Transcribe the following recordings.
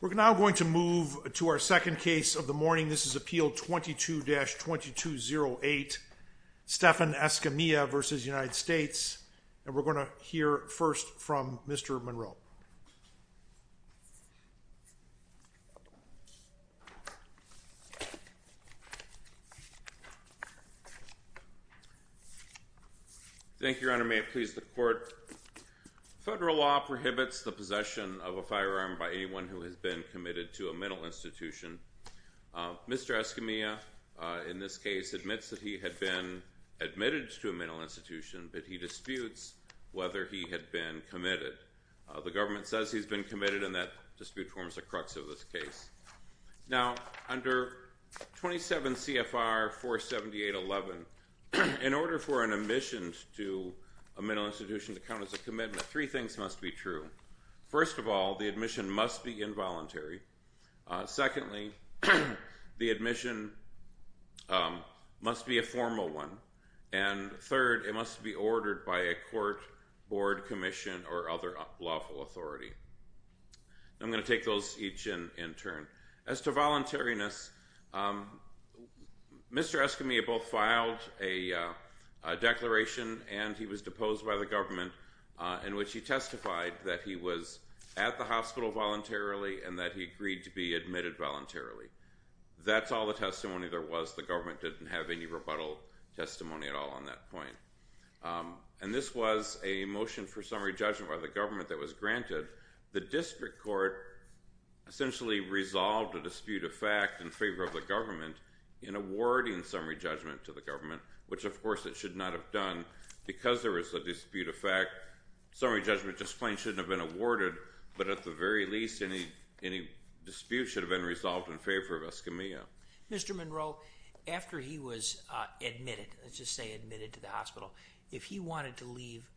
We're now going to move to our second case of the morning. This is Appeal 22-2208 Stefen Escamilla v. United States, and we're going to hear first from Mr. Monroe. Thank you, Your Honor. May it please the Court. Federal law prohibits the possession of a firearm by anyone who has been committed to a mental institution. Mr. Escamilla, in this case, admits that he had been admitted to a mental institution, but he disputes whether he had been committed. The government says he's been committed, and that dispute forms the crux of this case. Now, under 27 CFR 478.11, in order for an admission to a mental institution to count as a commitment, three things must be true. First of all, the admission must be involuntary. Secondly, the admission must be a formal one. And third, it must be ordered by a court, board, commission, or other lawful authority. I'm going to take those each in turn. As to voluntariness, Mr. Escamilla both filed a declaration, and he was deposed by the government, in which he testified that he was at the hospital voluntarily and that he agreed to be admitted voluntarily. That's all the testimony there was. The government didn't have any rebuttal testimony at all on that point. And this was a motion for summary judgment by the government that was granted. The district court essentially resolved a dispute of fact in favor of the government in awarding summary judgment to the government, which, of course, it should not have done. Because there was a dispute of fact, summary judgment just plain shouldn't have been awarded, but at the very least, any dispute should have been resolved in favor of Escamilla. Mr. Monroe, after he was admitted, let's just say admitted to the hospital, if he wanted to leave,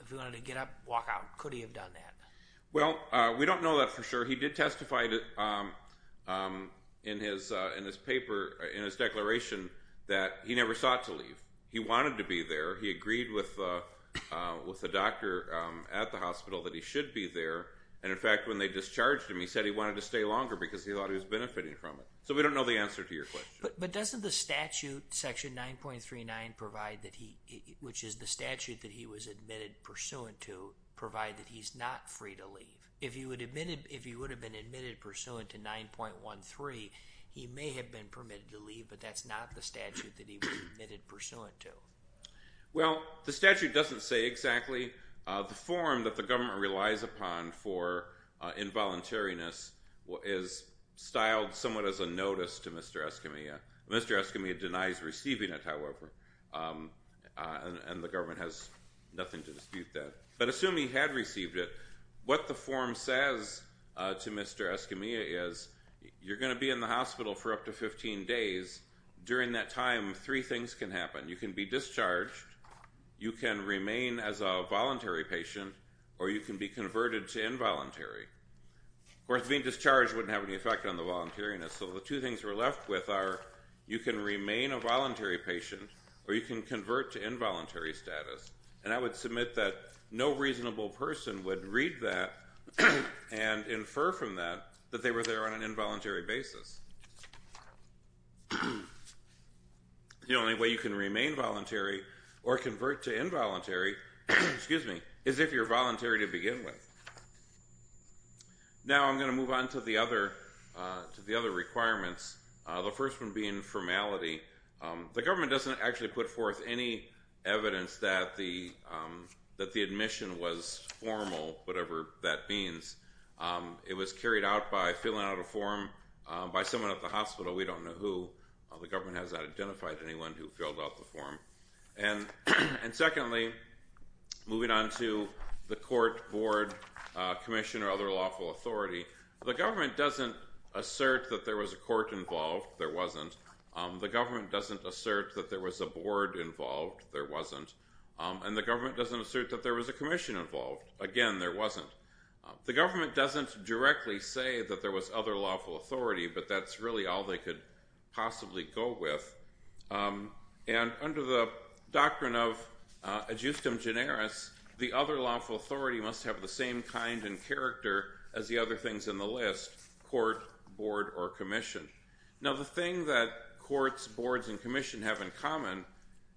if he wanted to get up, walk out, could he have done that? Well, we don't know that for sure. He did testify in his paper, in his declaration, that he never sought to leave. He wanted to be there. He agreed with the doctor at the hospital that he should be there. And in fact, when they discharged him, he said he wanted to stay longer because he thought he was benefiting from it. So we don't know the answer to your question. But doesn't the statute, section 9.39, which is the statute that he was admitted pursuant to, provide that he's not free to leave? If he would have been admitted pursuant to 9.13, he may have been permitted to leave, but that's not the statute that he was admitted pursuant to. Well, the statute doesn't say exactly. The form that the government relies upon for involuntariness is styled somewhat as a notice to Mr. Escamilla. Mr. Escamilla denies receiving it, however, and the government has nothing to dispute that. But assume he had received it, what the form says to Mr. Escamilla is you're going to be in the hospital for up to 15 days. During that time, three things can happen. You can be discharged, you can remain as a voluntary patient, or you can be converted to involuntary. Of course, being discharged wouldn't have any effect on the voluntariness, so the two things we're left with are you can remain a voluntary patient or you can convert to involuntary status. And I would submit that no reasonable person would read that and infer from that that they were there on an involuntary basis. The only way you can remain voluntary or convert to involuntary is if you're voluntary to begin with. Now I'm going to move on to the other requirements, the first one being formality. The government doesn't actually put forth any evidence that the admission was formal, whatever that means. It was carried out by filling out a form by someone at the hospital. We don't know who. The government has not identified anyone who filled out the form. And secondly, moving on to the court, board, commission, or other lawful authority, the government doesn't assert that there was a court involved. There wasn't. The government doesn't assert that there was a board involved. There wasn't. And the government doesn't assert that there was a commission involved. Again, there wasn't. The government doesn't directly say that there was other lawful authority, but that's really all they could possibly go with. And under the doctrine of ad justum generis, the other lawful authority must have the same kind and character as the other things in the list, court, board, or commission. Now the thing that courts, boards, and commission have in common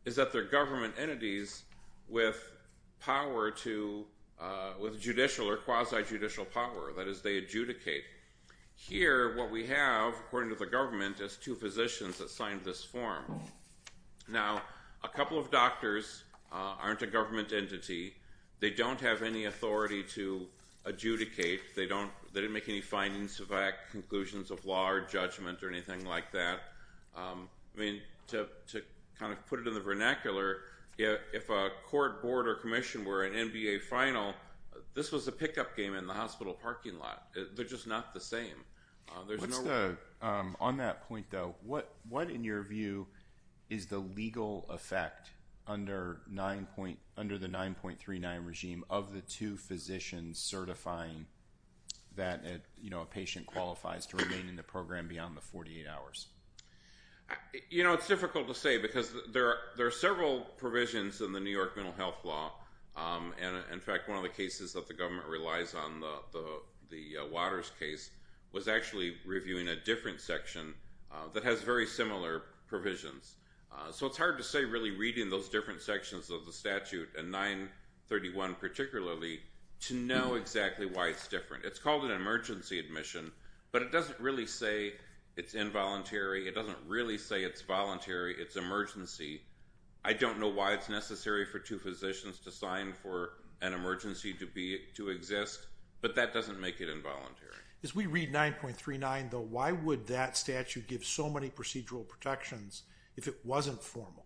is that they're government entities with power to, with judicial or quasi-judicial power, that is, they adjudicate. Here, what we have, according to the government, is two physicians that signed this form. Now, a couple of doctors aren't a government entity. They don't have any authority to adjudicate. They didn't make any findings of that, conclusions of law or judgment or anything like that. I mean, to kind of put it in the vernacular, if a court, board, or commission were an NBA final, this was a pickup game in the hospital parking lot. They're just not the same. On that point, though, what, in your view, is the legal effect under the 9.39 regime of the two physicians certifying that a patient qualifies to remain in the program beyond the 48 hours? You know, it's difficult to say because there are several provisions in the New York mental health law. And, in fact, one of the cases that the government relies on, the Waters case, was actually reviewing a different section that has very similar provisions. So it's hard to say, really, reading those different sections of the statute, and 9.31 particularly, to know exactly why it's different. It's called an emergency admission, but it doesn't really say it's involuntary. It doesn't really say it's voluntary. It's emergency. I don't know why it's necessary for two physicians to sign for an emergency to exist, but that doesn't make it involuntary. As we read 9.39, though, why would that statute give so many procedural protections if it wasn't formal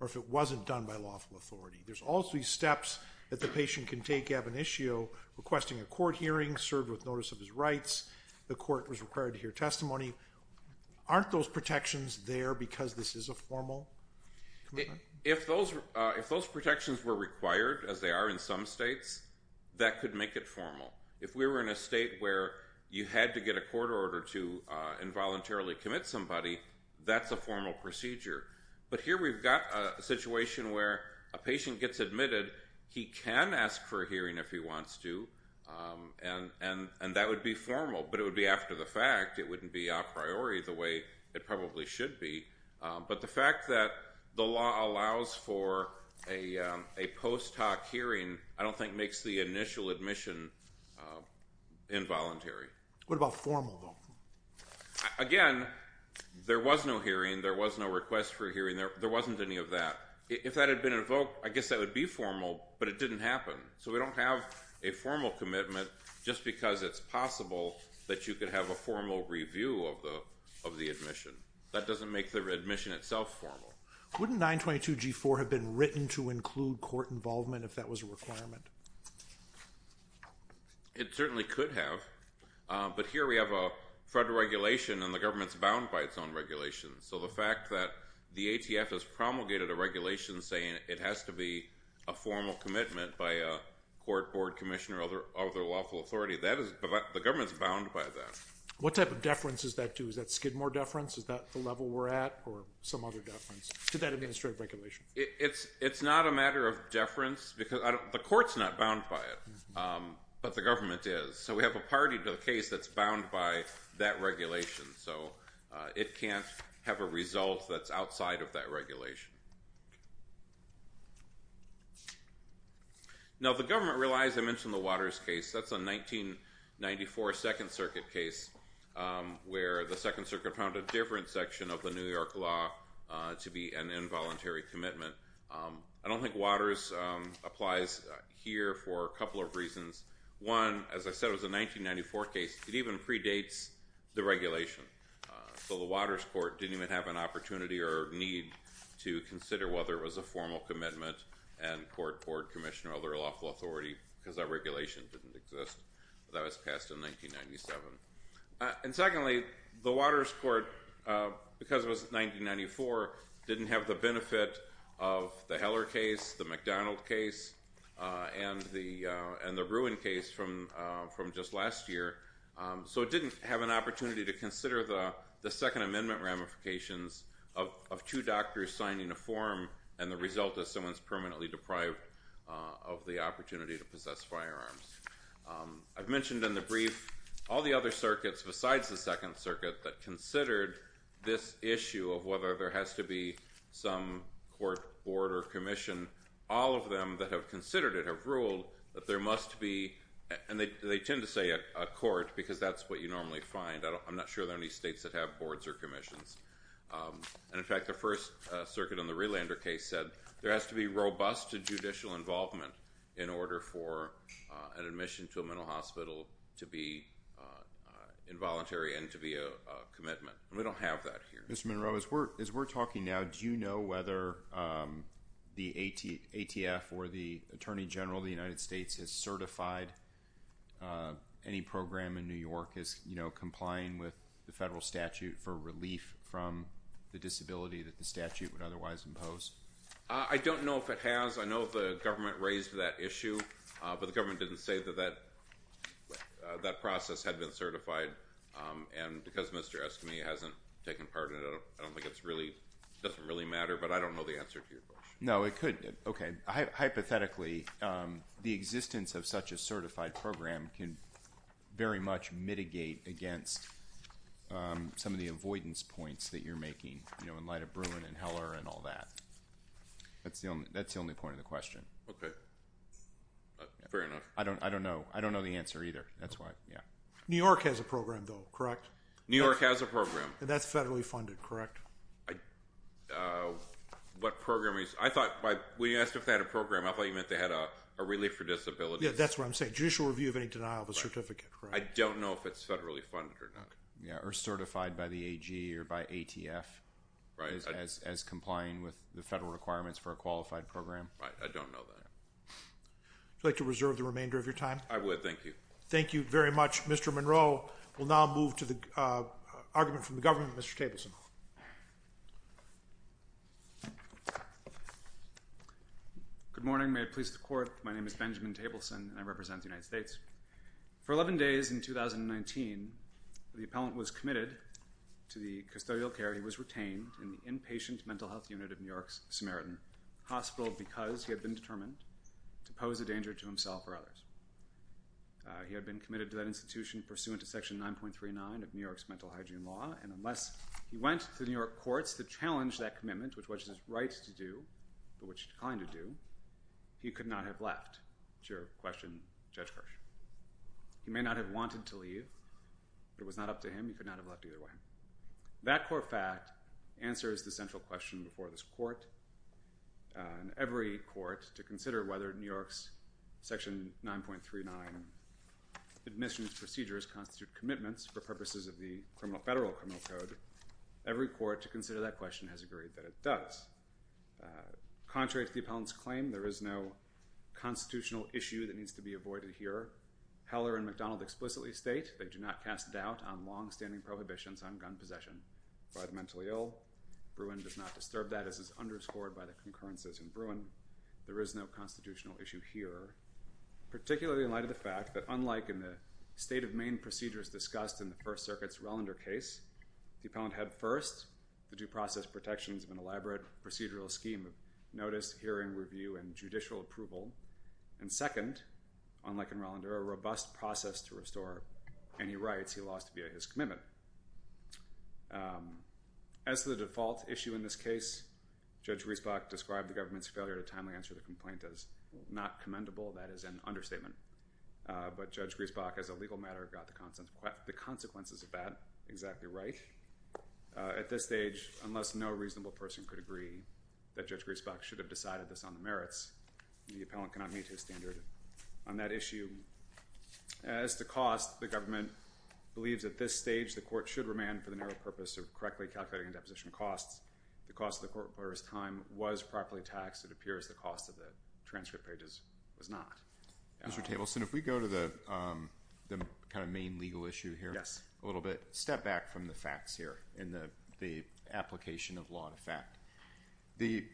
or if it wasn't done by lawful authority? There's all these steps that the patient can take ab initio, requesting a court hearing, served with notice of his rights, the court was required to hear testimony. Aren't those protections there because this is a formal commitment? If those protections were required, as they are in some states, that could make it formal. If we were in a state where you had to get a court order to involuntarily commit somebody, that's a formal procedure. But here we've got a situation where a patient gets admitted. He can ask for a hearing if he wants to, and that would be formal, but it would be after the fact. It wouldn't be a priori the way it probably should be. But the fact that the law allows for a post hoc hearing I don't think makes the initial admission involuntary. What about formal, though? Again, there was no hearing. There was no request for a hearing. There wasn't any of that. If that had been invoked, I guess that would be formal, but it didn't happen. So we don't have a formal commitment just because it's possible that you could have a formal review of the admission. That doesn't make the admission itself formal. Wouldn't 922G4 have been written to include court involvement if that was a requirement? It certainly could have. But here we have a federal regulation, and the government's bound by its own regulations. So the fact that the ATF has promulgated a regulation saying it has to be a formal commitment by a court, board, commissioner, or other lawful authority, the government's bound by that. What type of deference does that do? Is that Skidmore deference? Is that the level we're at or some other deference to that administrative regulation? It's not a matter of deference because the court's not bound by it, but the government is. So we have a party to the case that's bound by that regulation. So it can't have a result that's outside of that regulation. Now, the government relies, I mentioned the Waters case, that's a 1994 Second Circuit case where the Second Circuit found a different section of the New York law to be an involuntary commitment. I don't think Waters applies here for a couple of reasons. One, as I said, it was a 1994 case. It even predates the regulation. So the Waters court didn't even have an opportunity or need to consider whether it was a formal commitment and court, board, commissioner, or other lawful authority because that regulation didn't exist. That was passed in 1997. And secondly, the Waters court, because it was 1994, didn't have the benefit of the Heller case, the McDonald case, and the Ruin case from just last year. So it didn't have an opportunity to consider the Second Amendment ramifications of two doctors signing a form and the result is someone's permanently deprived of the opportunity to possess firearms. I've mentioned in the brief all the other circuits besides the Second Circuit that considered this issue of whether there has to be some court, board, or commission. All of them that have considered it have ruled that there must be, and they tend to say a court because that's what you normally find. I'm not sure there are any states that have boards or commissions. And in fact, the First Circuit in the Relander case said there has to be robust judicial involvement in order for an admission to a mental hospital to be involuntary and to be a commitment. We don't have that here. Mr. Monroe, as we're talking now, do you know whether the ATF or the Attorney General of the United States has certified any program in New York as complying with the federal statute for relief from the disability that the statute would otherwise impose? I don't know if it has. I know the government raised that issue, but the government didn't say that that process had been certified. And because Mr. Eskami hasn't taken part in it, I don't think it's really, doesn't really matter. But I don't know the answer to your question. No, it could. Okay. Hypothetically, the existence of such a certified program can very much mitigate against some of the avoidance points that you're making, you know, in light of Bruin and Heller and all that. That's the only point of the question. Okay. Fair enough. I don't know. I don't know the answer either. That's why, yeah. New York has a program, though, correct? New York has a program. And that's federally funded, correct? What program? When you asked if they had a program, I thought you meant they had a relief for disability. Yeah, that's what I'm saying. Judicial review of any denial of a certificate, correct? I don't know if it's federally funded or not. Yeah, or certified by the AG or by ATF as complying with the federal requirements for a qualified program. Right. I don't know that. Would you like to reserve the remainder of your time? I would. Thank you. Thank you very much. Mr. Monroe will now move to the argument from the government. Mr. Tableson. Good morning. May it please the Court. My name is Benjamin Tableson, and I represent the United States. For 11 days in 2019, the appellant was committed to the custodial care he was retained in the inpatient mental health unit of New York's Samaritan Hospital because he had been determined to pose a danger to himself or others. He had been committed to that institution pursuant to Section 9.39 of New York's mental hygiene law, and unless he went to New York courts to challenge that commitment, which was his right to do but which he declined to do, he could not have left. It's your question, Judge Kirsch. He may not have wanted to leave. It was not up to him. He could not have left either way. That core fact answers the central question before this Court, and every court to consider whether New York's Section 9.39 admissions procedures constitute commitments for purposes of the federal criminal code, every court to consider that question has agreed that it does. Contrary to the appellant's claim, there is no constitutional issue that needs to be avoided here. Heller and McDonald explicitly state, they do not cast doubt on longstanding prohibitions on gun possession by the mentally ill. Bruin does not disturb that as is underscored by the concurrences in Bruin. There is no constitutional issue here, particularly in light of the fact that, unlike in the state of Maine procedures discussed in the First Circuit's Relander case, the appellant had first the due process protections of an elaborate procedural scheme of notice, hearing, review, and judicial approval, and second, unlike in Relander, a robust process to restore any rights he lost via his commitment. As the default issue in this case, Judge Griesbach described the government's failure to timely answer the complaint as not commendable, that is an understatement. But Judge Griesbach, as a legal matter, got the consequences of that exactly right. At this stage, unless no reasonable person could agree that Judge Griesbach should have decided this on the merits, the appellant cannot meet his standard on that issue. As to cost, the government believes at this stage the court should remand for the narrow purpose of correctly calculating deposition costs. The cost of the court reporter's time was properly taxed. It appears the cost of the transcript pages was not. Mr. Tableson, if we go to the kind of main legal issue here a little bit, step back from the facts here and the application of law to fact. The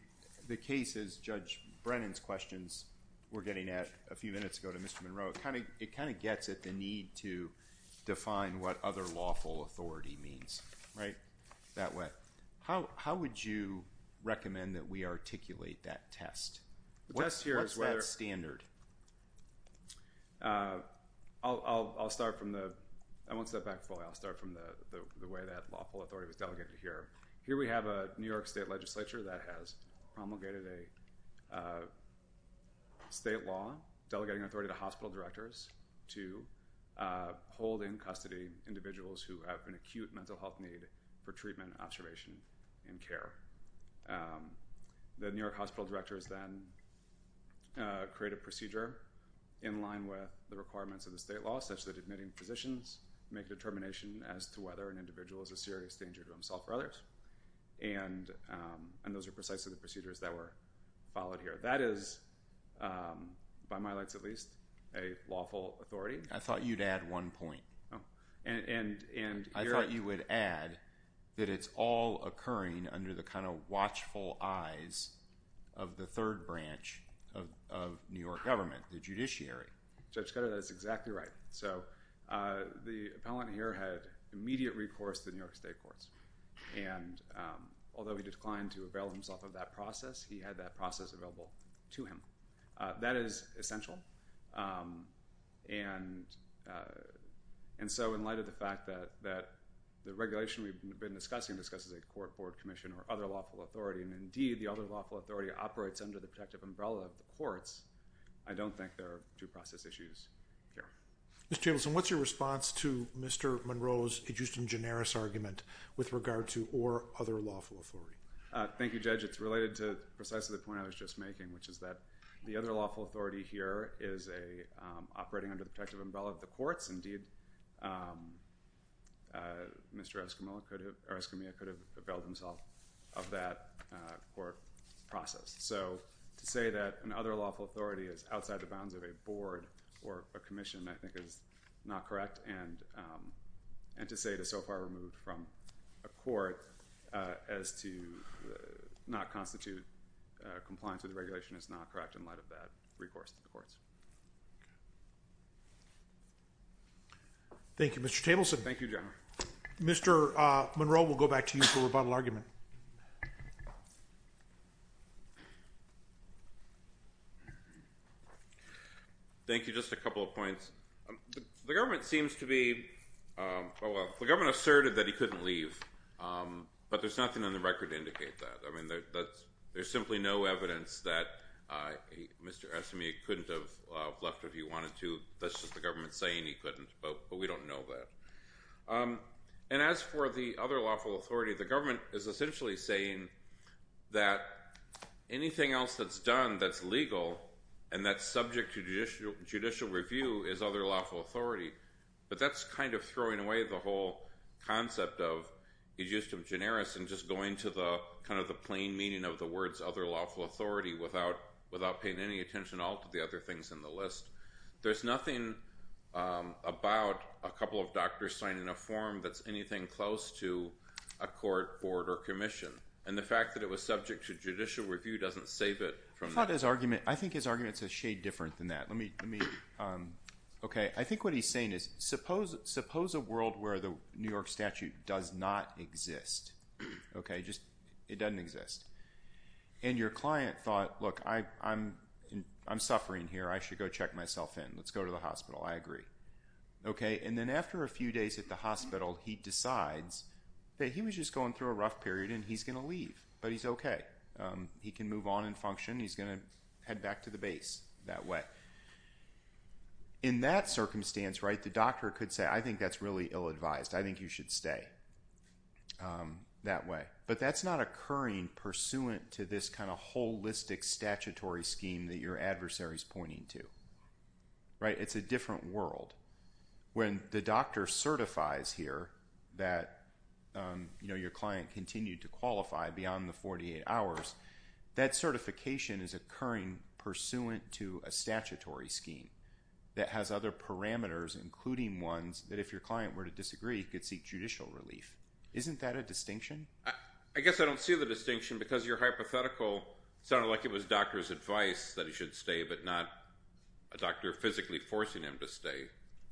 case, as Judge Brennan's questions were getting at a few minutes ago to Mr. Monroe, it kind of gets at the need to define what other lawful authority means, right, that way. How would you recommend that we articulate that test? The test here is whether- What's that standard? I'll start from the-I won't step back fully. I'll start from the way that lawful authority was delegated here. Here we have a New York State legislature that has promulgated a state law delegating authority to hospital directors to hold in custody individuals who have an acute mental health need for treatment, observation, and care. The New York hospital directors then create a procedure in line with the requirements of the state law, such that admitting physicians make a determination as to whether an individual is a serious danger to themselves or others. And those are precisely the procedures that were followed here. That is, by my lights at least, a lawful authority. I thought you'd add one point. I thought you would add that it's all occurring under the kind of watchful eyes of the third branch of New York government, the judiciary. Judge Cutter, that is exactly right. So the appellant here had immediate recourse to the New York State courts. And although he declined to avail himself of that process, he had that process available to him. That is essential. And so in light of the fact that the regulation we've been discussing discusses a court-board commission or other lawful authority, and indeed the other lawful authority operates under the protective umbrella of the courts, I don't think there are due process issues here. Mr. Chamblisson, what's your response to Mr. Monroe's ad justem generis argument with regard to or other lawful authority? Thank you, Judge. It's related to precisely the point I was just making, which is that the other lawful authority here is operating under the protective umbrella of the courts. Indeed, Mr. Escamilla could have availed himself of that court process. So to say that another lawful authority is outside the bounds of a board or a commission I think is not correct, and to say it is so far removed from a court as to not constitute compliance with the regulation is not correct in light of that recourse to the courts. Thank you, Mr. Chamblisson. Thank you, General. Mr. Monroe, we'll go back to you for a rebuttal argument. Thank you. Just a couple of points. The government asserted that he couldn't leave, but there's nothing on the record to indicate that. There's simply no evidence that Mr. Escamilla couldn't have left if he wanted to. That's just the government saying he couldn't, but we don't know that. And as for the other lawful authority, the government is essentially saying that anything else that's done that's legal and that's subject to judicial review is other lawful authority. But that's kind of throwing away the whole concept of e justum generis and just going to kind of the plain meaning of the words other lawful authority without paying any attention at all to the other things in the list. There's nothing about a couple of doctors signing a form that's anything close to a court, board, or commission. And the fact that it was subject to judicial review doesn't save it from that. I think his argument is a shade different than that. I think what he's saying is suppose a world where the New York statute does not exist. It doesn't exist. And your client thought, look, I'm suffering here. I should go check myself in. Let's go to the hospital. I agree. And then after a few days at the hospital, he decides that he was just going through a rough period and he's going to leave. But he's okay. He can move on and function. He's going to head back to the base that way. In that circumstance, the doctor could say, I think that's really ill-advised. I think you should stay that way. But that's not occurring pursuant to this kind of holistic statutory scheme that your adversary is pointing to. It's a different world. When the doctor certifies here that your client continued to qualify beyond the 48 hours, that certification is occurring pursuant to a statutory scheme that has other parameters, including ones that if your client were to disagree, you could seek judicial relief. Isn't that a distinction? I guess I don't see the distinction because your hypothetical sounded like it was doctor's advice that he should stay but not a doctor physically forcing him to stay.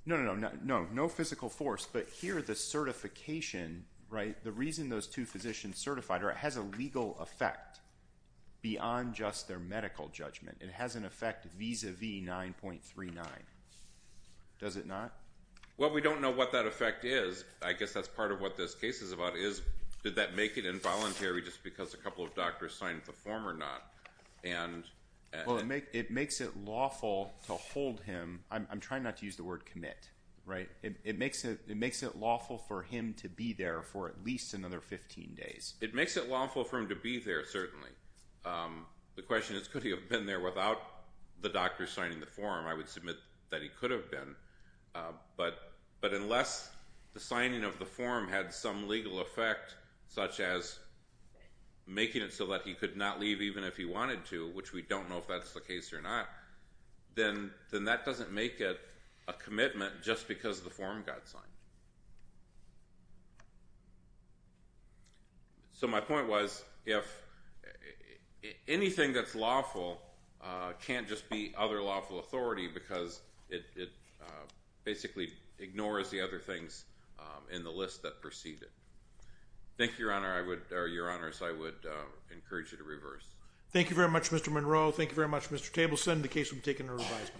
No, no, no. No physical force. But here the certification, right, the reason those two physicians certified her, it has a legal effect beyond just their medical judgment. It has an effect vis-à-vis 9.39. Does it not? Well, we don't know what that effect is. I guess that's part of what this case is about is did that make it involuntary just because a couple of doctors signed the form or not? Well, it makes it lawful to hold him. I'm trying not to use the word commit, right? It makes it lawful for him to be there for at least another 15 days. It makes it lawful for him to be there, certainly. The question is could he have been there without the doctor signing the form. I would submit that he could have been. But unless the signing of the form had some legal effect such as making it so that he could not leave even if he wanted to, which we don't know if that's the case or not, then that doesn't make it a commitment just because the form got signed. So my point was if anything that's lawful can't just be other lawful authority because it basically ignores the other things in the list that precede it. Thank you, Your Honor. I would, or Your Honors, I would encourage you to reverse. Thank you very much, Mr. Monroe. Thank you very much, Mr. Tableson. The case will be taken to revision.